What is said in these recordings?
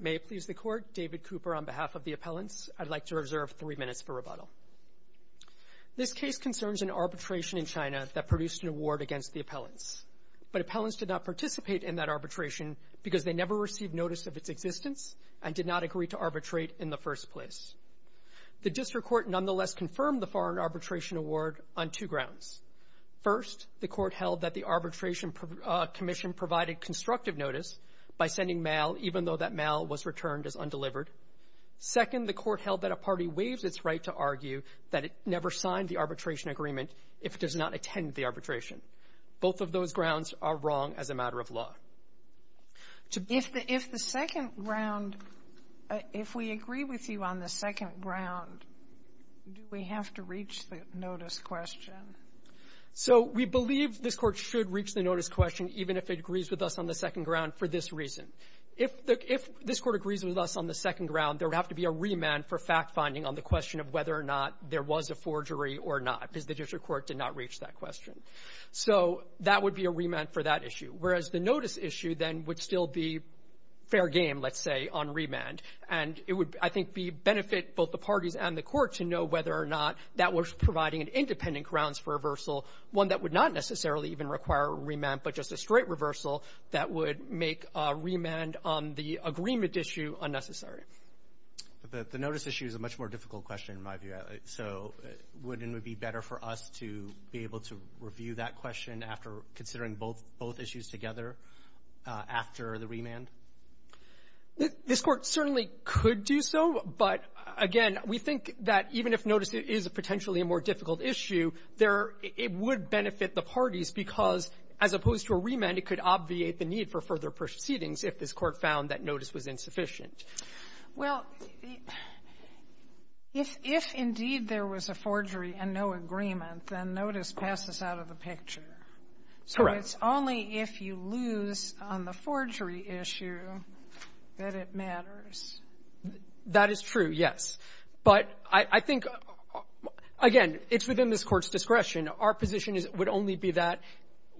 May it please the Court, David Cooper on behalf of the appellants, I'd like to reserve three minutes for rebuttal. This case concerns an arbitration in China that produced an award against the appellants, but appellants did not participate in that arbitration because they never received notice of its existence and did not agree to arbitrate in the first place. The District Court nonetheless confirmed the foreign arbitration award on two grounds. First, the Court held that the Arbitration Commission provided constructive notice by sending mail even though that mail was returned as undelivered. Second, the Court held that a party waives its right to argue that it never signed the arbitration agreement if it does not attend the arbitration. Both of those grounds are wrong as a matter of law. If the second ground, if we agree with you on the second ground, do we have to reach the notice question? So we believe this Court should reach the notice question even if it agrees with us on the second ground for this reason. If this Court agrees with us on the second ground, there would have to be a remand for fact-finding on the question of whether or not there was a forgery or not because the District Court did not reach that question. So that would be a remand for that issue. Whereas the notice issue, then, would still be fair game, let's say, on remand. And it would, I think, benefit both the parties and the Court to know whether or not that was providing an independent grounds for reversal, one that would not necessarily even require a remand, but just a straight reversal that would make a remand on the agreement issue unnecessary. But the notice issue is a much more difficult question, in my view. So wouldn't it be better for us to be able to review that question after considering both issues together after the remand? This Court certainly could do so. But, again, we think that even if notice is potentially a more difficult issue, there are – it would benefit the parties because, as opposed to a remand, it could obviate the need for further proceedings if this Court found that notice was insufficient. Well, if indeed there was a forgery and no agreement, then notice passes out of the picture. So it's only if you lose on the forgery issue that it matters. That is true, yes. But I think, again, it's within this Court's discretion. Our position is it would only be that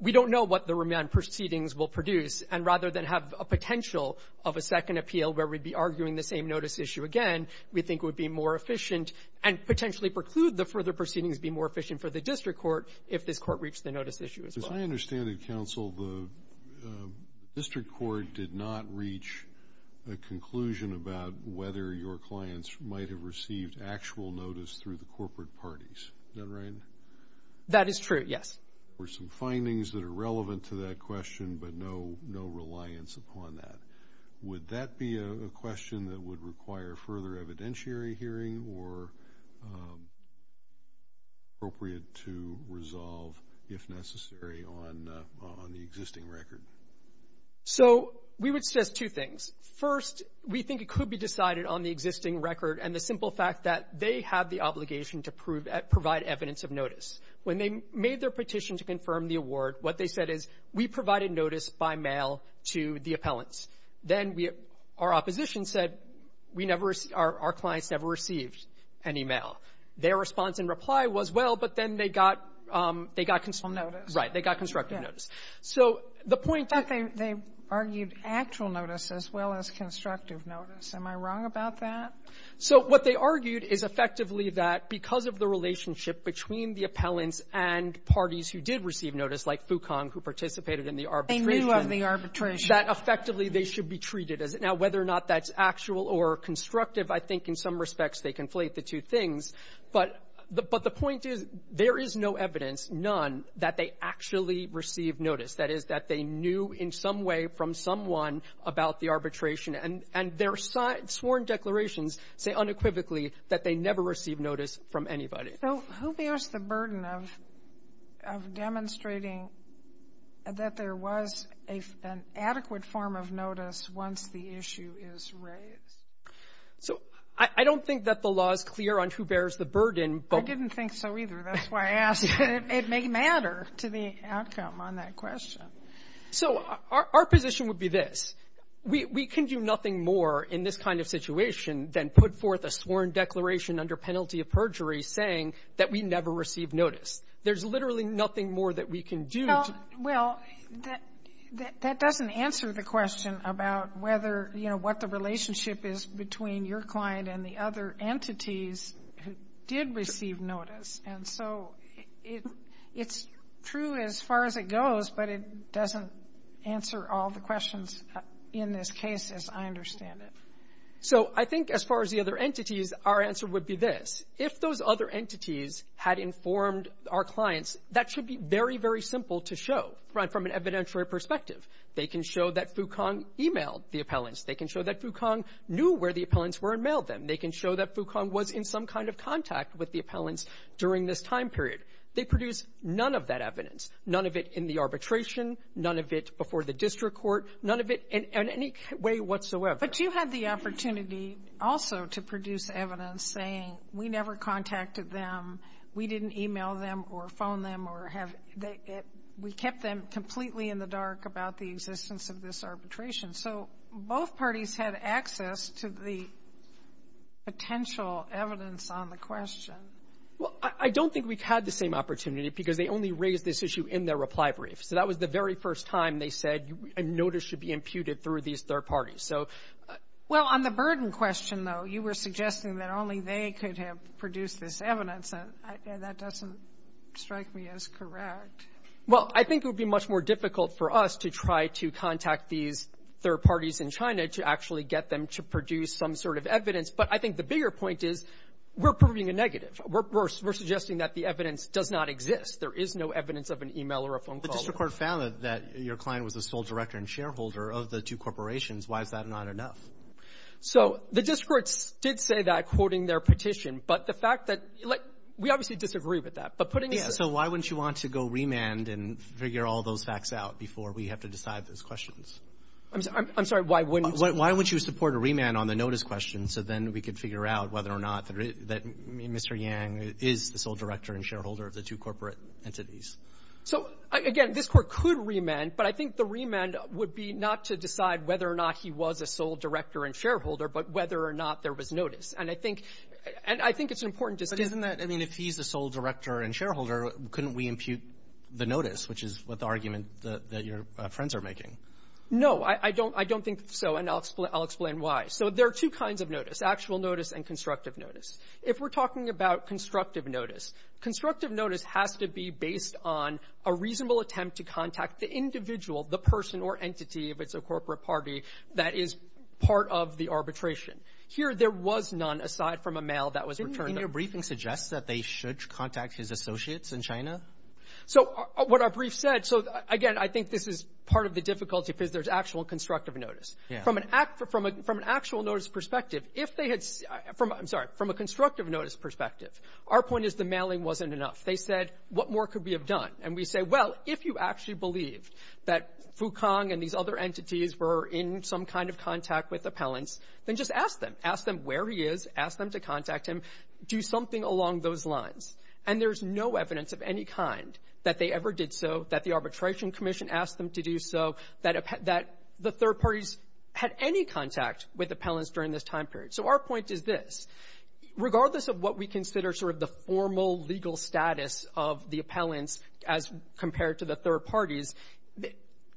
we don't know what the remand proceedings will produce, and rather than have a potential of a second appeal where we'd be arguing the same notice issue again, we think it would be more efficient and potentially preclude the further proceedings being more efficient for the district court if this was a notice issue as well. As I understand it, Counsel, the district court did not reach a conclusion about whether your clients might have received actual notice through the corporate parties. Is that right? That is true, yes. There were some findings that are relevant to that question, but no reliance upon that. Would that be a question that would require further evidentiary hearing or appropriate to resolve, if necessary, on the existing record? So we would suggest two things. First, we think it could be decided on the existing record and the simple fact that they have the obligation to provide evidence of notice. When they made their petition to confirm the award, what they said is, we provided notice by mail to the appellants. Then our opposition said, our clients never received any mail. Their response in reply was, well, but then they got they got constructed notice. They got constructive notice. So the point that they argued actual notice as well as constructive notice. Am I wrong about that? So what they argued is effectively that because of the relationship between the appellants and parties who did receive notice, like Fucon, who participated in the arbitration they knew of the arbitration, that effectively they should be treated as it. Now, whether or not that's actual or constructive, I think in some respects they conflate the two things. But the point is, there is no evidence, none, that they actually received notice. That is, that they knew in some way from someone about the arbitration. And their sworn declarations say unequivocally that they never received notice from anybody. So who bears the burden of demonstrating that there was an adequate form of notice once the issue is raised? So I don't think that the law is clear on who bears the burden, but — I didn't think so, either. That's why I asked. It may matter to the outcome on that question. So our position would be this. We can do nothing more in this kind of situation than put forth a sworn declaration under penalty of perjury saying that we never received notice. There's literally nothing more that we can do to — Well, that doesn't answer the question about whether, you know, what the relationship is between your client and the other entities who did receive notice. And so it's true as far as it goes, but it doesn't answer all the questions in this case as I understand it. So I think as far as the other entities, our answer would be this. If those other entities had informed our clients, that should be very, very simple to show from an evidentiary perspective. They can show that Fukong emailed the appellants. They can show that Fukong knew where the appellants were and mailed them. They can show that Fukong was in some kind of contact with the appellants during this time period. They produce none of that evidence, none of it in the arbitration, none of it before the district court, none of it in any way whatsoever. But you had the opportunity also to produce evidence saying we never contacted them, we didn't email them or phone them or have — we kept them completely in the dark about the existence of this arbitration. So both parties had access to the potential evidence on the question. Well, I don't think we had the same opportunity because they only raised this issue in their reply brief. So that was the very first time they said a notice should be imputed through these third parties. So — Well, on the burden question, though, you were suggesting that only they could have produced this evidence, and that doesn't strike me as correct. Well, I think it would be much more difficult for us to try to contact these third parties in China to actually get them to produce some sort of evidence. But I think the bigger point is we're proving a negative. We're suggesting that the evidence does not exist. There is no evidence of an email or a phone call. The district court found that your client was the sole director and shareholder of the two corporations. Why is that not enough? So the district courts did say that, quoting their petition. But the fact that — like, we obviously disagree with that. So why wouldn't you want to go remand and figure all those facts out before we have to decide those questions? I'm sorry. Why wouldn't you — Why wouldn't you support a remand on the notice question so then we could figure out whether or not that Mr. Yang is the sole director and shareholder of the two corporate entities? So, again, this Court could remand. But I think the remand would be not to decide whether or not he was a sole director and shareholder, but whether or not there was notice. And I think — and I think it's an important distinction. But isn't that — I mean, if he's the sole director and shareholder, couldn't we impute the notice, which is what the argument that your friends are making? No. I don't — I don't think so. And I'll explain — I'll explain why. So there are two kinds of notice, actual notice and constructive notice. If we're talking about constructive notice, constructive notice has to be based on a reasonable attempt to contact the individual, the person or entity, if it's a corporate party, that is part of the arbitration. Here, there was none, aside from a mail that was returned. And your briefing suggests that they should contact his associates in China? So what our brief said — so, again, I think this is part of the difficulty because there's actual constructive notice. Yeah. From an — from an actual notice perspective, if they had — I'm sorry. From a constructive notice perspective, our point is the mailing wasn't enough. They said, what more could we have done? And we say, well, if you actually believe that Fu Kang and these other entities were in some kind of contact with appellants, then just ask them. Ask them where he is. Ask them to contact him. Do something along those lines. And there's no evidence of any kind that they ever did so, that the Arbitration Commission asked them to do so, that the third parties had any contact with appellants during this time period. So our point is this. Regardless of what we consider sort of the formal legal status of the appellants as compared to the third parties,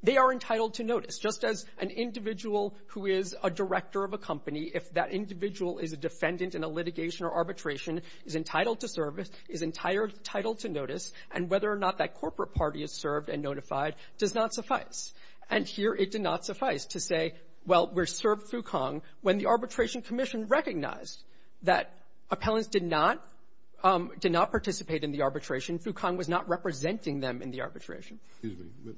they are entitled to notice. Just as an individual who is a director of a company, if that individual is a defendant in a litigation or arbitration, is entitled to service, is entitled to notice, and whether or not that corporate party is served and notified does not suffice. And here it did not suffice to say, well, we're served Fu Kang, when the Arbitration Commission recognized that appellants did not — did not participate in the arbitration. Fu Kang was not representing them in the arbitration. Excuse me.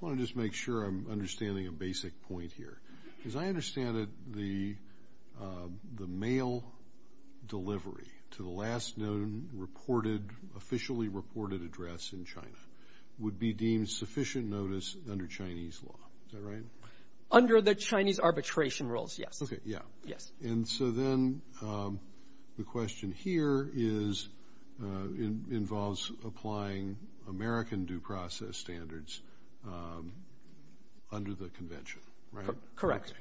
I want to just make sure I'm understanding a basic point here. As I understand it, the mail delivery to the last known reported — officially reported address in China would be deemed sufficient notice under Chinese law. Is that right? Under the Chinese arbitration rules, yes. Okay. Yeah. Yes. And so then the question here is — involves applying American due process standards under the convention, right? Correct.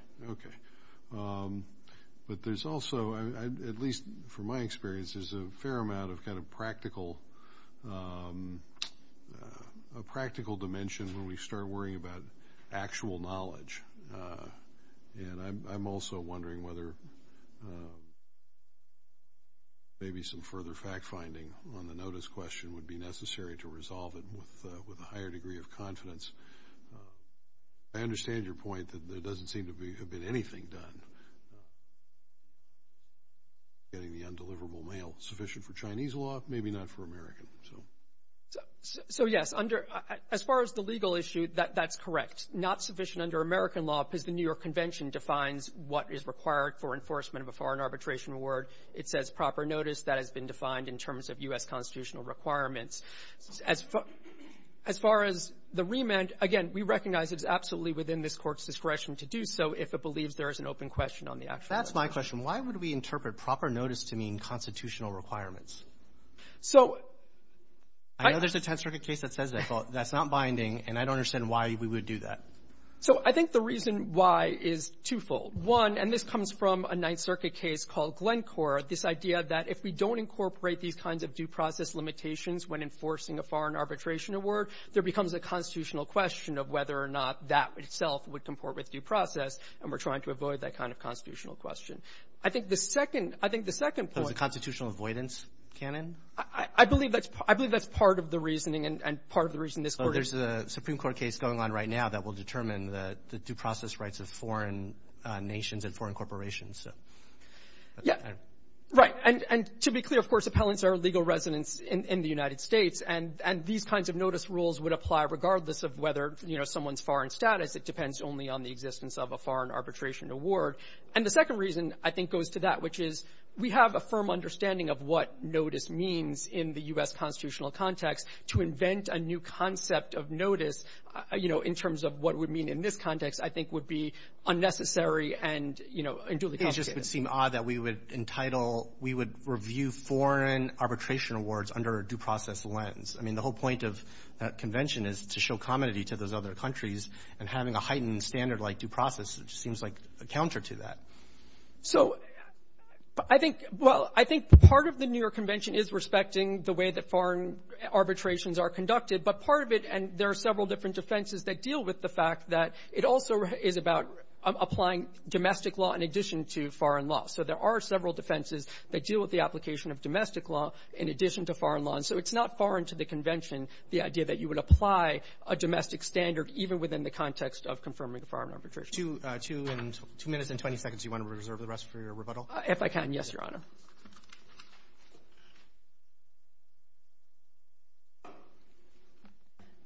But there's also, at least from my experience, there's a fair amount of kind of practical — a practical dimension when we start worrying about actual knowledge. And I'm also wondering whether maybe some further fact-finding on the notice question would be necessary to resolve it with a higher degree of confidence. I understand your point that there doesn't seem to be — have been anything done. Getting the undeliverable mail sufficient for Chinese law, maybe not for American, so. So, yes, under — as far as the legal issue, that's correct. Not sufficient under American law because the New York Convention defines what is required for enforcement of a foreign arbitration award. It says proper notice. That has been defined in terms of U.S. constitutional requirements. As far as the remand, again, we recognize it's absolutely within this Court's discretion to do so if it believes there is an open question on the actual — That's my question. Why would we interpret proper notice to mean constitutional requirements? So — I know there's a Tenth Circuit case that says that, but that's not binding, and I don't understand why we would do that. So I think the reason why is twofold. One, and this comes from a Ninth Circuit case called Glencore, this idea that if we don't incorporate these kinds of due process limitations when enforcing a foreign arbitration award, there becomes a constitutional question of whether or not that itself would comport with due process, and we're trying to avoid that kind of constitutional question. I think the second — I think the second point — There's a constitutional avoidance canon? I believe that's — I believe that's part of the reasoning, and part of the reason this Court is — So there's a Supreme Court case going on right now that will determine the due process rights of foreign nations and foreign corporations, so — Yeah. Right. And to be clear, of course, appellants are legal residents in the United States, and these kinds of notice rules would apply regardless of whether, you know, someone's foreign status. It depends only on the existence of a foreign arbitration award. And the second reason, I think, goes to that, which is we have a firm understanding of what notice means in the U.S. constitutional context. To invent a new concept of notice, you know, in terms of what it would mean in this context, I think would be unnecessary and, you know, and duly complicated. It would seem odd that we would entitle — we would review foreign arbitration awards under a due process lens. I mean, the whole point of that convention is to show commodity to those other countries, and having a heightened standard like due process seems like a counter to that. So I think — well, I think part of the New York Convention is respecting the way that foreign arbitrations are conducted, but part of it — and there are several different defenses that deal with the fact that it also is about applying domestic law in addition to foreign law. So there are several defenses that deal with the application of domestic law in addition to foreign law. And so it's not foreign to the convention, the idea that you would apply a domestic standard even within the context of confirming a foreign arbitration. MR. RUBENSTEIN, JR.: Two minutes and 20 seconds. Do you want to reserve the rest for your rebuttal? MR. WOLFSON, JR.: If I can, yes, Your Honor. MS. WOLFSON, JR.: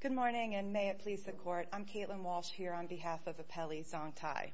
Good morning, and may it please the Court, I'm Caitlin Walsh here on behalf of Apelli Zontai.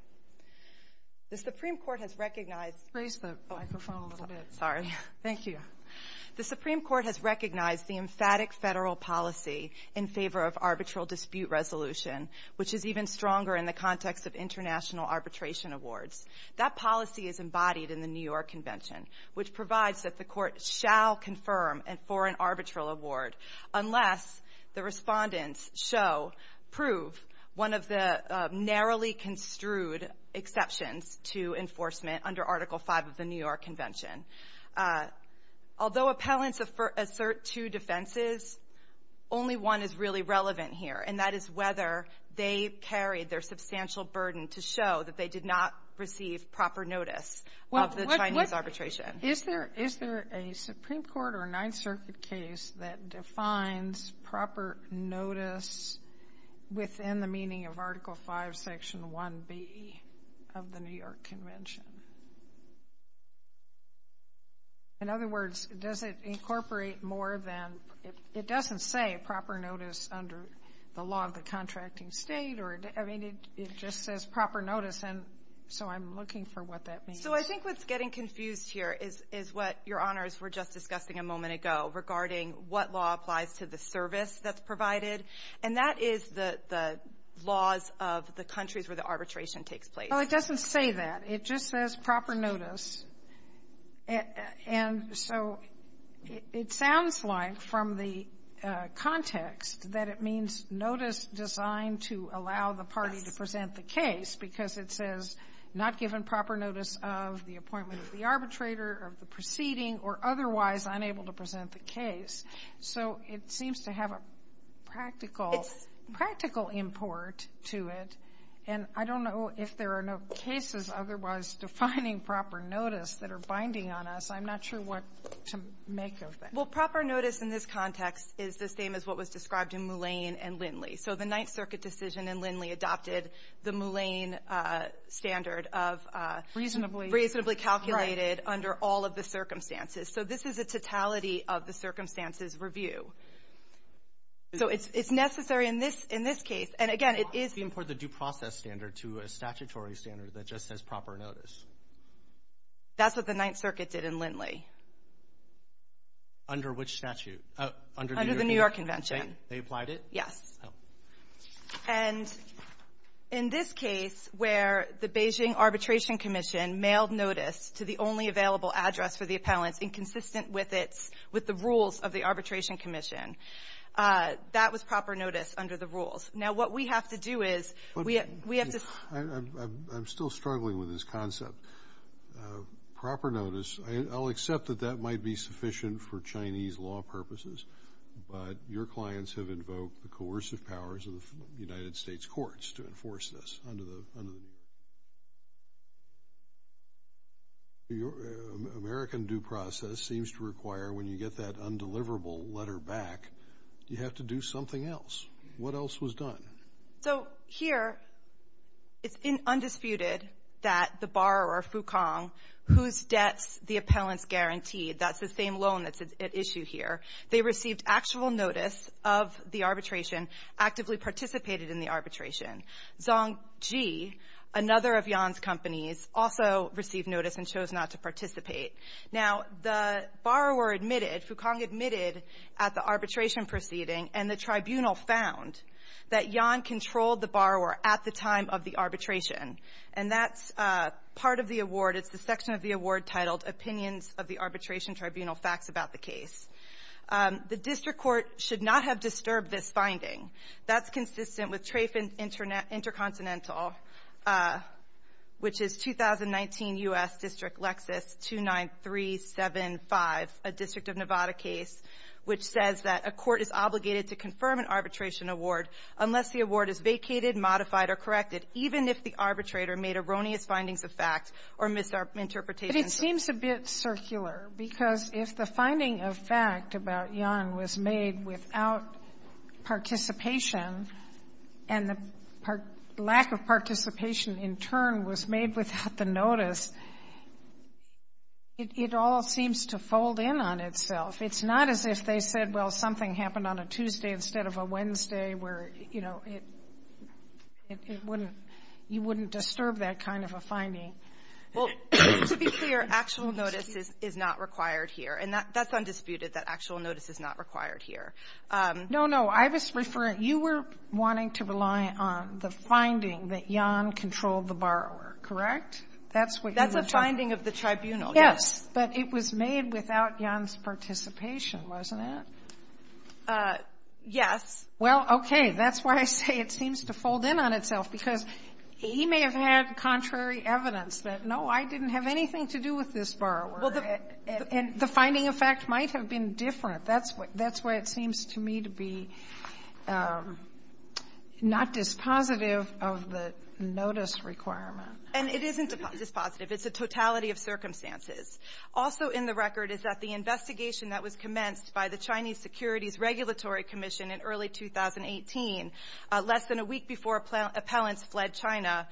The Supreme Court has recognized — WOLFSON, JR.: Raise the microphone a little bit. WOLFSON, JR.: Sorry. WOLFSON, JR.: Thank you. WOLFSON, JR.: The Supreme Court has recognized the emphatic federal policy in favor of arbitral dispute resolution, which is even stronger in the context of international arbitration awards. That policy is embodied in the New York Convention, which provides that the Court shall confirm a foreign arbitral award unless the Respondents show, prove one of the narrowly construed exceptions to enforcement under Article V of the New York Convention. Although appellants assert two defenses, only one is really relevant here, and that is whether they carried their substantial burden to show that they did not receive proper notice of the Chinese arbitration. Sotomayor, is there a Supreme Court or a Ninth Circuit case that defines proper notice within the meaning of Article V, Section 1B of the New York Convention? In other words, does it incorporate more than — it doesn't say proper notice under the law of the contracting state or — I mean, it just says proper notice, and so I'm looking for what that means. WOLFSON, JR.: So I think what's getting confused here is what, Your Honors, we're just discussing a moment ago regarding what law applies to the service that's provided, and that is the laws of the countries where the arbitration takes place. WOLFSON, JR.: Well, it doesn't say that. It just says proper notice. And so it sounds like from the context that it means notice designed to allow the party to present the case, because it says not given proper notice of the appointment of the arbitrator, of the proceeding, or otherwise unable to present the case. So it seems to have a practical — practical import to it, and I don't know if there are no cases otherwise defining proper notice that are binding on us. I'm not sure what to make of that. WOLFSON, JR.: Well, proper notice in this context is the same as what was described in Moulin and Lindley. So the Ninth Circuit decision in Lindley adopted the Moulin standard of — WOLFSON, JR.: Reasonably — WOLFSON, JR.: Right. WOLFSON, JR.: Reasonably calculated under all of the circumstances. So this is a totality of the circumstances review. So it's necessary in this case. And again, it is — WOLFSON, JR.: Why import the due process standard to a statutory standard that just says proper notice? WOLFSON, JR.: That's what the Ninth Circuit did in Lindley. CHIEF JUSTICE ROBERTS, JR.: Under which statute? WOLFSON, JR.: Under the New York Convention. CHIEF JUSTICE ROBERTS, JR.: They applied it? WOLFSON, JR.: Yes. CHIEF JUSTICE ROBERTS, JR.: Oh. WOLFSON, JR.: And in this case, where the Beijing Arbitration Commission mailed notice to the only available address for the appellants inconsistent with its — with the rules of the Arbitration Commission, that was proper notice under the rules. Now, what we have to do is we have to — I accept that that might be sufficient for Chinese law purposes, but your clients have invoked the coercive powers of the United States courts to enforce this under the — American due process seems to require when you get that undeliverable letter back, you have to do something else. What else was done? CHIEF JUSTICE ROBERTS, JR.: So here, it's undisputed that the borrower, Fu Kang, whose debts the appellants guaranteed — that's the same loan that's at issue here — they received actual notice of the arbitration, actively participated in the arbitration. Zong Ji, another of Yan's companies, also received notice and chose not to participate. Now, the borrower admitted — Fu Kang admitted at the arbitration proceeding, and the tribunal found that Yan controlled the borrower at the time of the arbitration. And that's part of the award. It's the section of the award titled, Opinions of the Arbitration Tribunal, Facts About the Case. The district court should not have disturbed this finding. That's consistent with Trafin Intercontinental, which is 2019 U.S. District Lexis 29375, a District of Nevada case, which says that a court is obligated to confirm an arbitration award unless the award is vacated, modified, or corrected, even if the arbitrator made erroneous findings of fact or misinterpretations of fact. Sotomayor, it seems a bit circular, because if the finding of fact about Yan was made without participation, and the lack of participation in turn was made without the notice, it all seems to fold in on itself. It's not as if they said, well, something happened on a Tuesday instead of a Wednesday, where, you know, it wouldn't — you wouldn't disturb that kind of a finding. Well, to be clear, actual notice is not required here. And that's undisputed, that actual notice is not required here. No, no. I was referring — you were wanting to rely on the finding that Yan controlled the borrower, correct? That's what you were — That's a finding of the tribunal, yes. Yes. But it was made without Yan's participation, wasn't it? Yes. Well, okay. That's why I say it seems to fold in on itself, because he may have had contrary evidence that, no, I didn't have anything to do with this borrower. And the finding of fact might have been different. That's why it seems to me to be not dispositive of the notice requirement. And it isn't dispositive. It's a totality of circumstances. Also in the record is that the investigation that was commenced by the Chinese Securities Regulatory Commission in early 2018, less than a week before appellants fled China,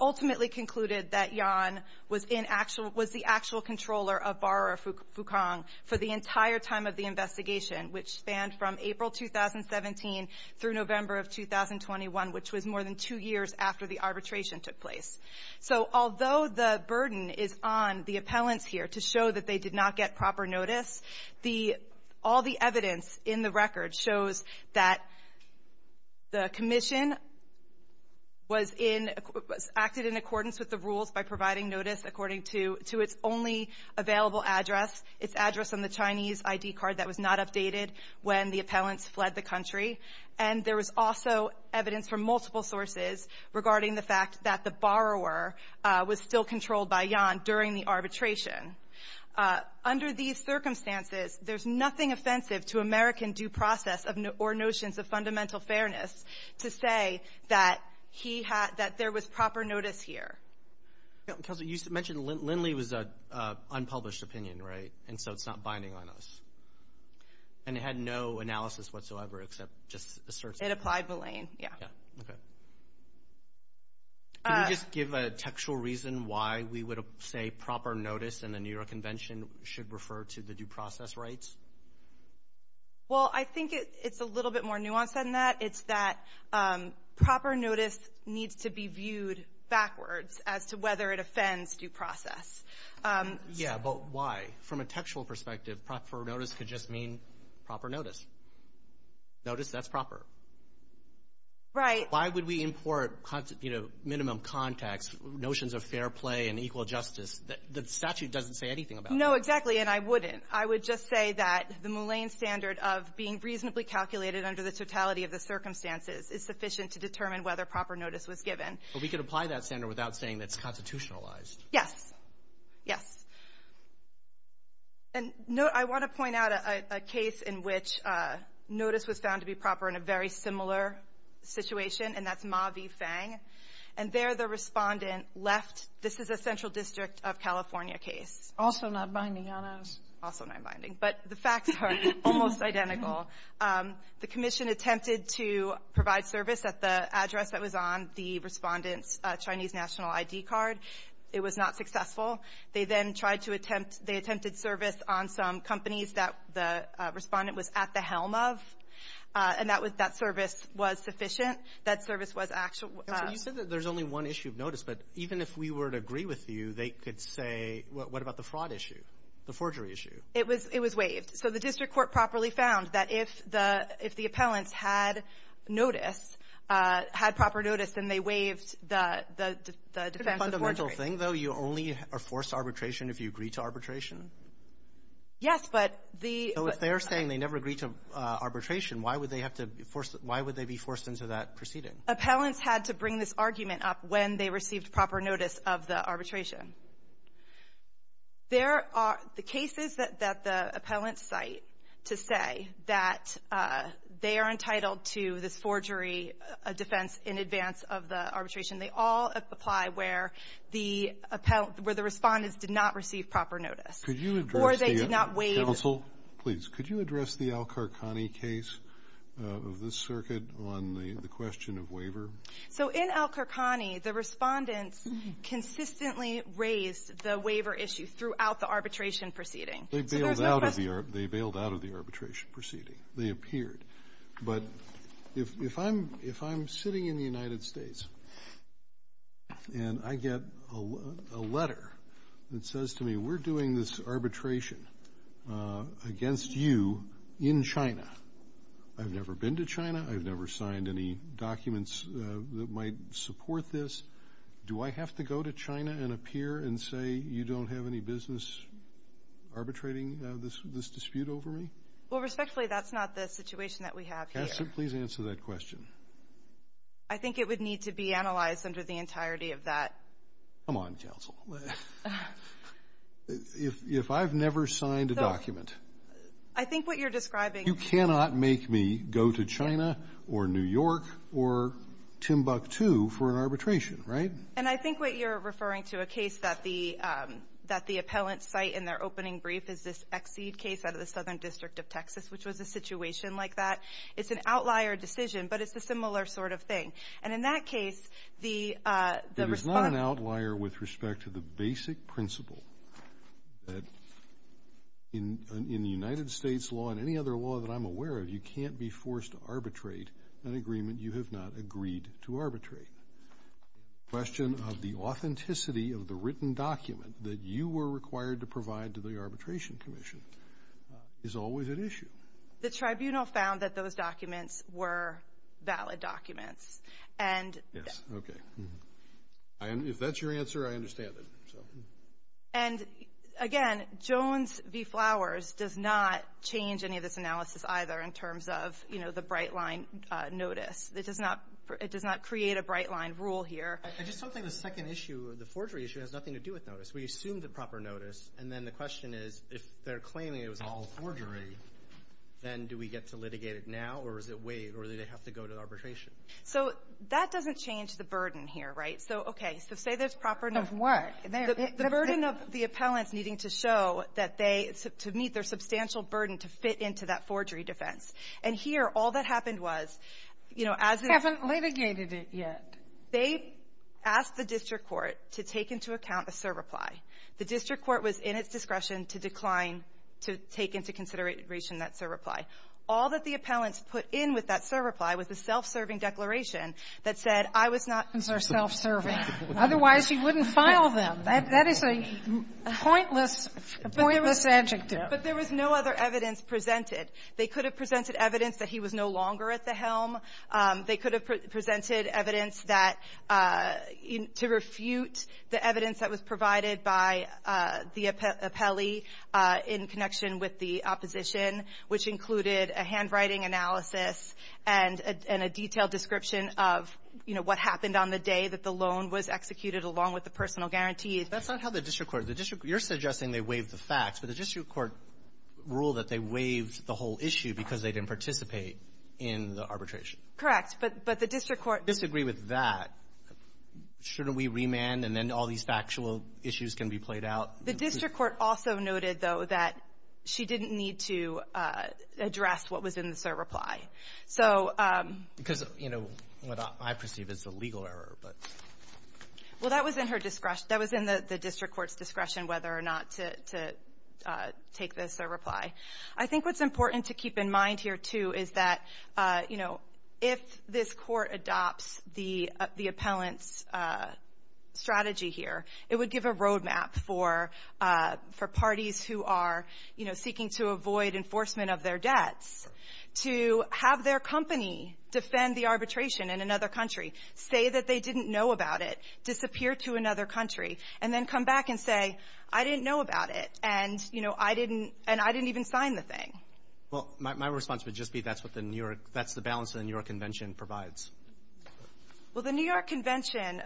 ultimately concluded that Yan was in actual — was the actual controller of borrower Fucong for the entire time of the investigation, which spanned from April 2017 through November of 2021, which was more than two years after the arbitration took place. So although the burden is on the appellants here to show that they did not get proper notice, the — all the evidence in the record shows that the commission was in — acted in accordance with the rules by providing notice according to its only available address, its address on the Chinese I.D. card that was not updated when the appellants fled the country. And there was also evidence from multiple sources regarding the fact that the borrower was still controlled by Yan during the arbitration. Under these circumstances, there's nothing offensive to American due process or notions of fundamental rights. You mentioned Lindley was an unpublished opinion, right? And so it's not binding on us. And it had no analysis whatsoever except just asserts — It applied Belain, yeah. Yeah, okay. Can you just give a textual reason why we would say proper notice in the New York Convention should refer to the due process rights? Well, I think it's a little bit more nuanced than that. It's that proper notice needs to be viewed backwards as to whether it offends due process. Yeah, but why? From a textual perspective, proper notice could just mean proper notice. Notice that's proper. Right. Why would we import, you know, minimum context, notions of fair play and equal justice that the statute doesn't say anything about? No, exactly, and I wouldn't. I would just say that the Moulin standard of being reasonably calculated under the totality of the circumstances is sufficient to determine whether proper notice was given. But we could apply that standard without saying that it's constitutionalized. Yes. Yes. And note — I want to point out a case in which notice was found to be proper in a very similar situation, and that's Ma v. Fang. And there the respondent left. This is a Central District of California case. Also not binding on us. Also not binding. But the facts are almost identical. The commission attempted to provide service at the address that was on the respondent's Chinese national ID card. It was not successful. They then tried to attempt — they attempted service on some companies that the respondent was at the helm of, and that was — that service was sufficient. That service was actual — So you said that there's only one issue of notice. But even if we were to agree with you, they could say, what about the fraud issue, the forgery issue? It was — it was waived. So the district court properly found that if the — if the appellants had notice — had proper notice, then they waived the defense of forgery. It's a fundamental thing, though. You only are forced to arbitration if you agree to arbitration? Yes, but the — So if they're saying they never agreed to arbitration, why would they have to be forced — why would they be forced into that proceeding? Appellants had to bring this argument up when they received proper notice of the arbitration. There are — the cases that the appellants cite to say that they are entitled to this forgery defense in advance of the arbitration, they all apply where the — where the Respondents did not receive proper notice. Could you address the — Or they did not waive — Counsel, please. Could you address the Al-Kharkhani case of this circuit on the question of waiver? So in Al-Kharkhani, the Respondents consistently raised the waiver issue throughout the arbitration proceeding. They bailed out of the — They bailed out of the arbitration proceeding. They appeared. But if I'm — if I'm sitting in the United States and I get a letter that says to me, we're doing this arbitration against you in China, I've never been to China, I've never signed any documents that might support this, do I have to go to China and appear and say you don't have any business arbitrating this dispute over me? Well, respectfully, that's not the situation that we have here. Please answer that question. I think it would need to be analyzed under the entirety of that. Come on, Counsel. If I've never signed a document — I think what you're describing — You cannot make me go to China or New York or Timbuktu for an arbitration, right? And I think what you're referring to, a case that the — that the appellant's site in their opening brief is this Exceed case out of the Southern District of Texas, which was a situation like that. It's an outlier decision, but it's a similar sort of thing. And in that case, the — It is not an outlier with respect to the basic principle that in the United States law and any other law that I'm aware of, you can't be forced to arbitrate an agreement you have not agreed to arbitrate. The question of the authenticity of the written document that you were required to provide to the Arbitration Commission is always at issue. The tribunal found that those documents were valid documents. And — Yes, okay. If that's your answer, I understand it. And, again, Jones v. Flowers does not change any of this analysis either in terms of, you know, the bright-line notice. It does not — it does not create a bright-line rule here. I just don't think the second issue, the forgery issue, has nothing to do with notice. We assume the proper notice, and then the question is, if they're claiming it was all forgery, then do we get to litigate it now, or does it wait, or do they have to go to arbitration? So that doesn't change the burden here, right? So, okay. So say there's proper notice. Of what? The burden of the appellants needing to show that they — to meet their substantial burden to fit into that forgery defense. And here, all that happened was, you know, as — Haven't litigated it yet. They asked the district court to take into account a serve-reply. The district court was in its discretion to decline to take into consideration that serve-reply. All that the appellants put in with that serve-reply was a self-serving declaration that said, I was not — The appellants are self-serving. Otherwise, you wouldn't file them. That is a pointless — a pointless adjective. But there was no other evidence presented. They could have presented evidence that he was no longer at the helm. They could have presented evidence that — to refute the evidence that was provided by the appellee in connection with the opposition, which included a handwriting analysis and a detailed description of, you know, what happened on the day that the loan was executed along with the personal guarantee. That's not how the district court — the district — you're suggesting they waived the facts, but the district court ruled that they waived the whole issue because they didn't participate in the arbitration. Correct. But the district court — If you disagree with that, shouldn't we remand and then all these factual issues can be played out? The district court also noted, though, that she didn't need to address what was in the cert reply. So — Because, you know, what I perceive is a legal error, but — Well, that was in her discretion. That was in the district court's discretion whether or not to take the cert reply. I think what's important to keep in mind here, too, is that, you know, if this court adopts the appellant's strategy here, it would give a roadmap for parties who are, you know, seeking to avoid enforcement of their debts to have their company defend the arbitration in another country, say that they didn't know about it, disappear to another country, and then come back and say, I didn't know about it, and, you know, I didn't — and I didn't even sign the thing. Well, my response would just be that's what the New York — that's the balance that the New York Convention provides. Well, the New York Convention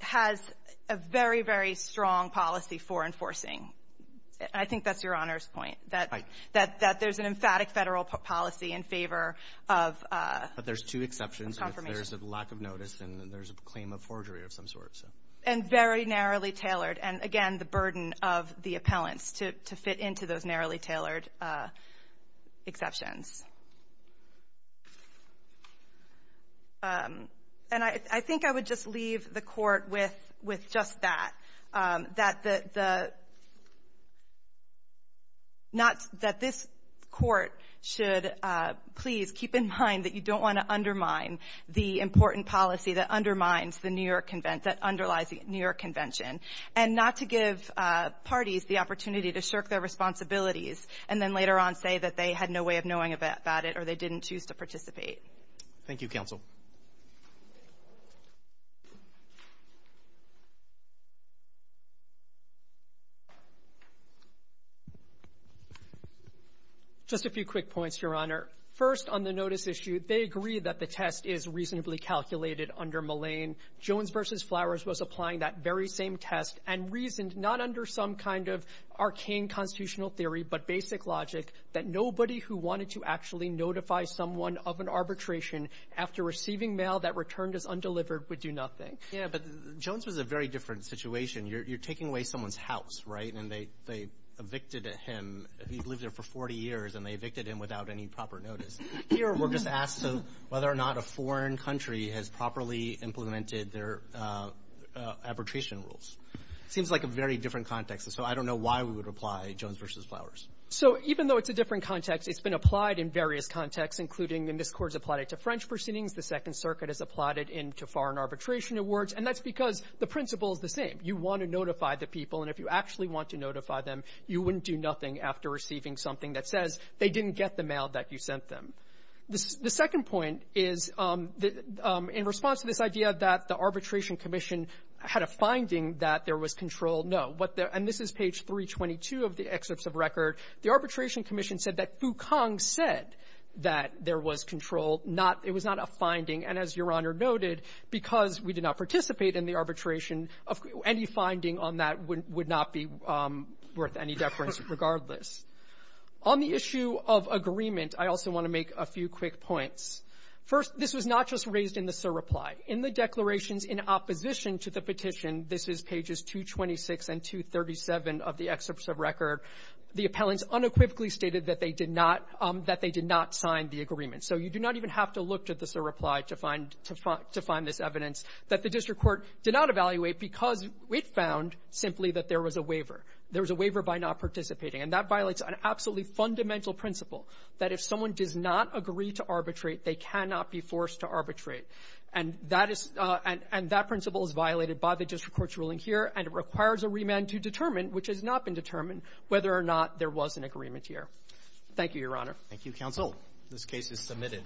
has a very, very strong policy for enforcing. I think that's Your Honor's point, that there's an emphatic Federal policy in favor of confirmation. But there's two exceptions. There's a lack of notice and there's a claim of forgery of some sort. And very narrowly tailored. And, again, the burden of the appellants to fit into those narrowly tailored exceptions. And I think I would just leave the Court with just that, that the — that this Court should please keep in mind that you don't want to undermine the important policy that undermines the New York — that underlies the New York Convention. And not to give parties the opportunity to shirk their responsibilities and then later on say that they had no way of knowing about it or they didn't choose to participate. Thank you, Counsel. Just a few quick points, Your Honor. First, on the notice issue, they agree that the test is reasonably calculated under Mullane. Jones v. Flowers was applying that very same test and reasoned not under some kind of arcane constitutional theory but basic logic that nobody who wanted to actually notify someone of an arbitration after receiving mail that returned as undelivered would do nothing. Yeah, but Jones was a very different situation. You're taking away someone's house, right? And they evicted him. He lived there for 40 years and they evicted him without any proper notice. Here we're just asked whether or not a foreign country has properly implemented their arbitration rules. It seems like a very different context. So I don't know why we would apply Jones v. Flowers. So even though it's a different context, it's been applied in various contexts, including in this Court it's applied to French proceedings. The Second Circuit has applied it to foreign arbitration awards. And that's because the principle is the same. You want to notify the people. And if you actually want to notify them, you wouldn't do nothing after receiving something that says they didn't get the mail that you sent them. The second point is in response to this idea that the Arbitration Commission had a finding that there was control, no. And this is page 322 of the excerpts of record. The Arbitration Commission said that Fu Kang said that there was control, not that it was not a finding. And as Your Honor noted, because we did not participate in the arbitration, any finding on that would not be worth any deference regardless. On the issue of agreement, I also want to make a few quick points. First, this was not just raised in the SIR reply. In the declarations in opposition to the petition, this is pages 226 and 237 of the excerpts of record, the appellants unequivocally stated that they did not – that they did not sign the agreement. So you do not even have to look to the SIR reply to find – to find this evidence that the district court did not evaluate because it found simply that there was a waiver. There was a waiver by not participating. And that violates an absolutely fundamental principle, that if someone does not agree to arbitrate, they cannot be forced to arbitrate. And that is – and that principle is violated by the district court's ruling here, and it requires a remand to determine, which has not been determined, whether or not there was an agreement here. Thank you, Your Honor. Thank you, counsel. This case is submitted.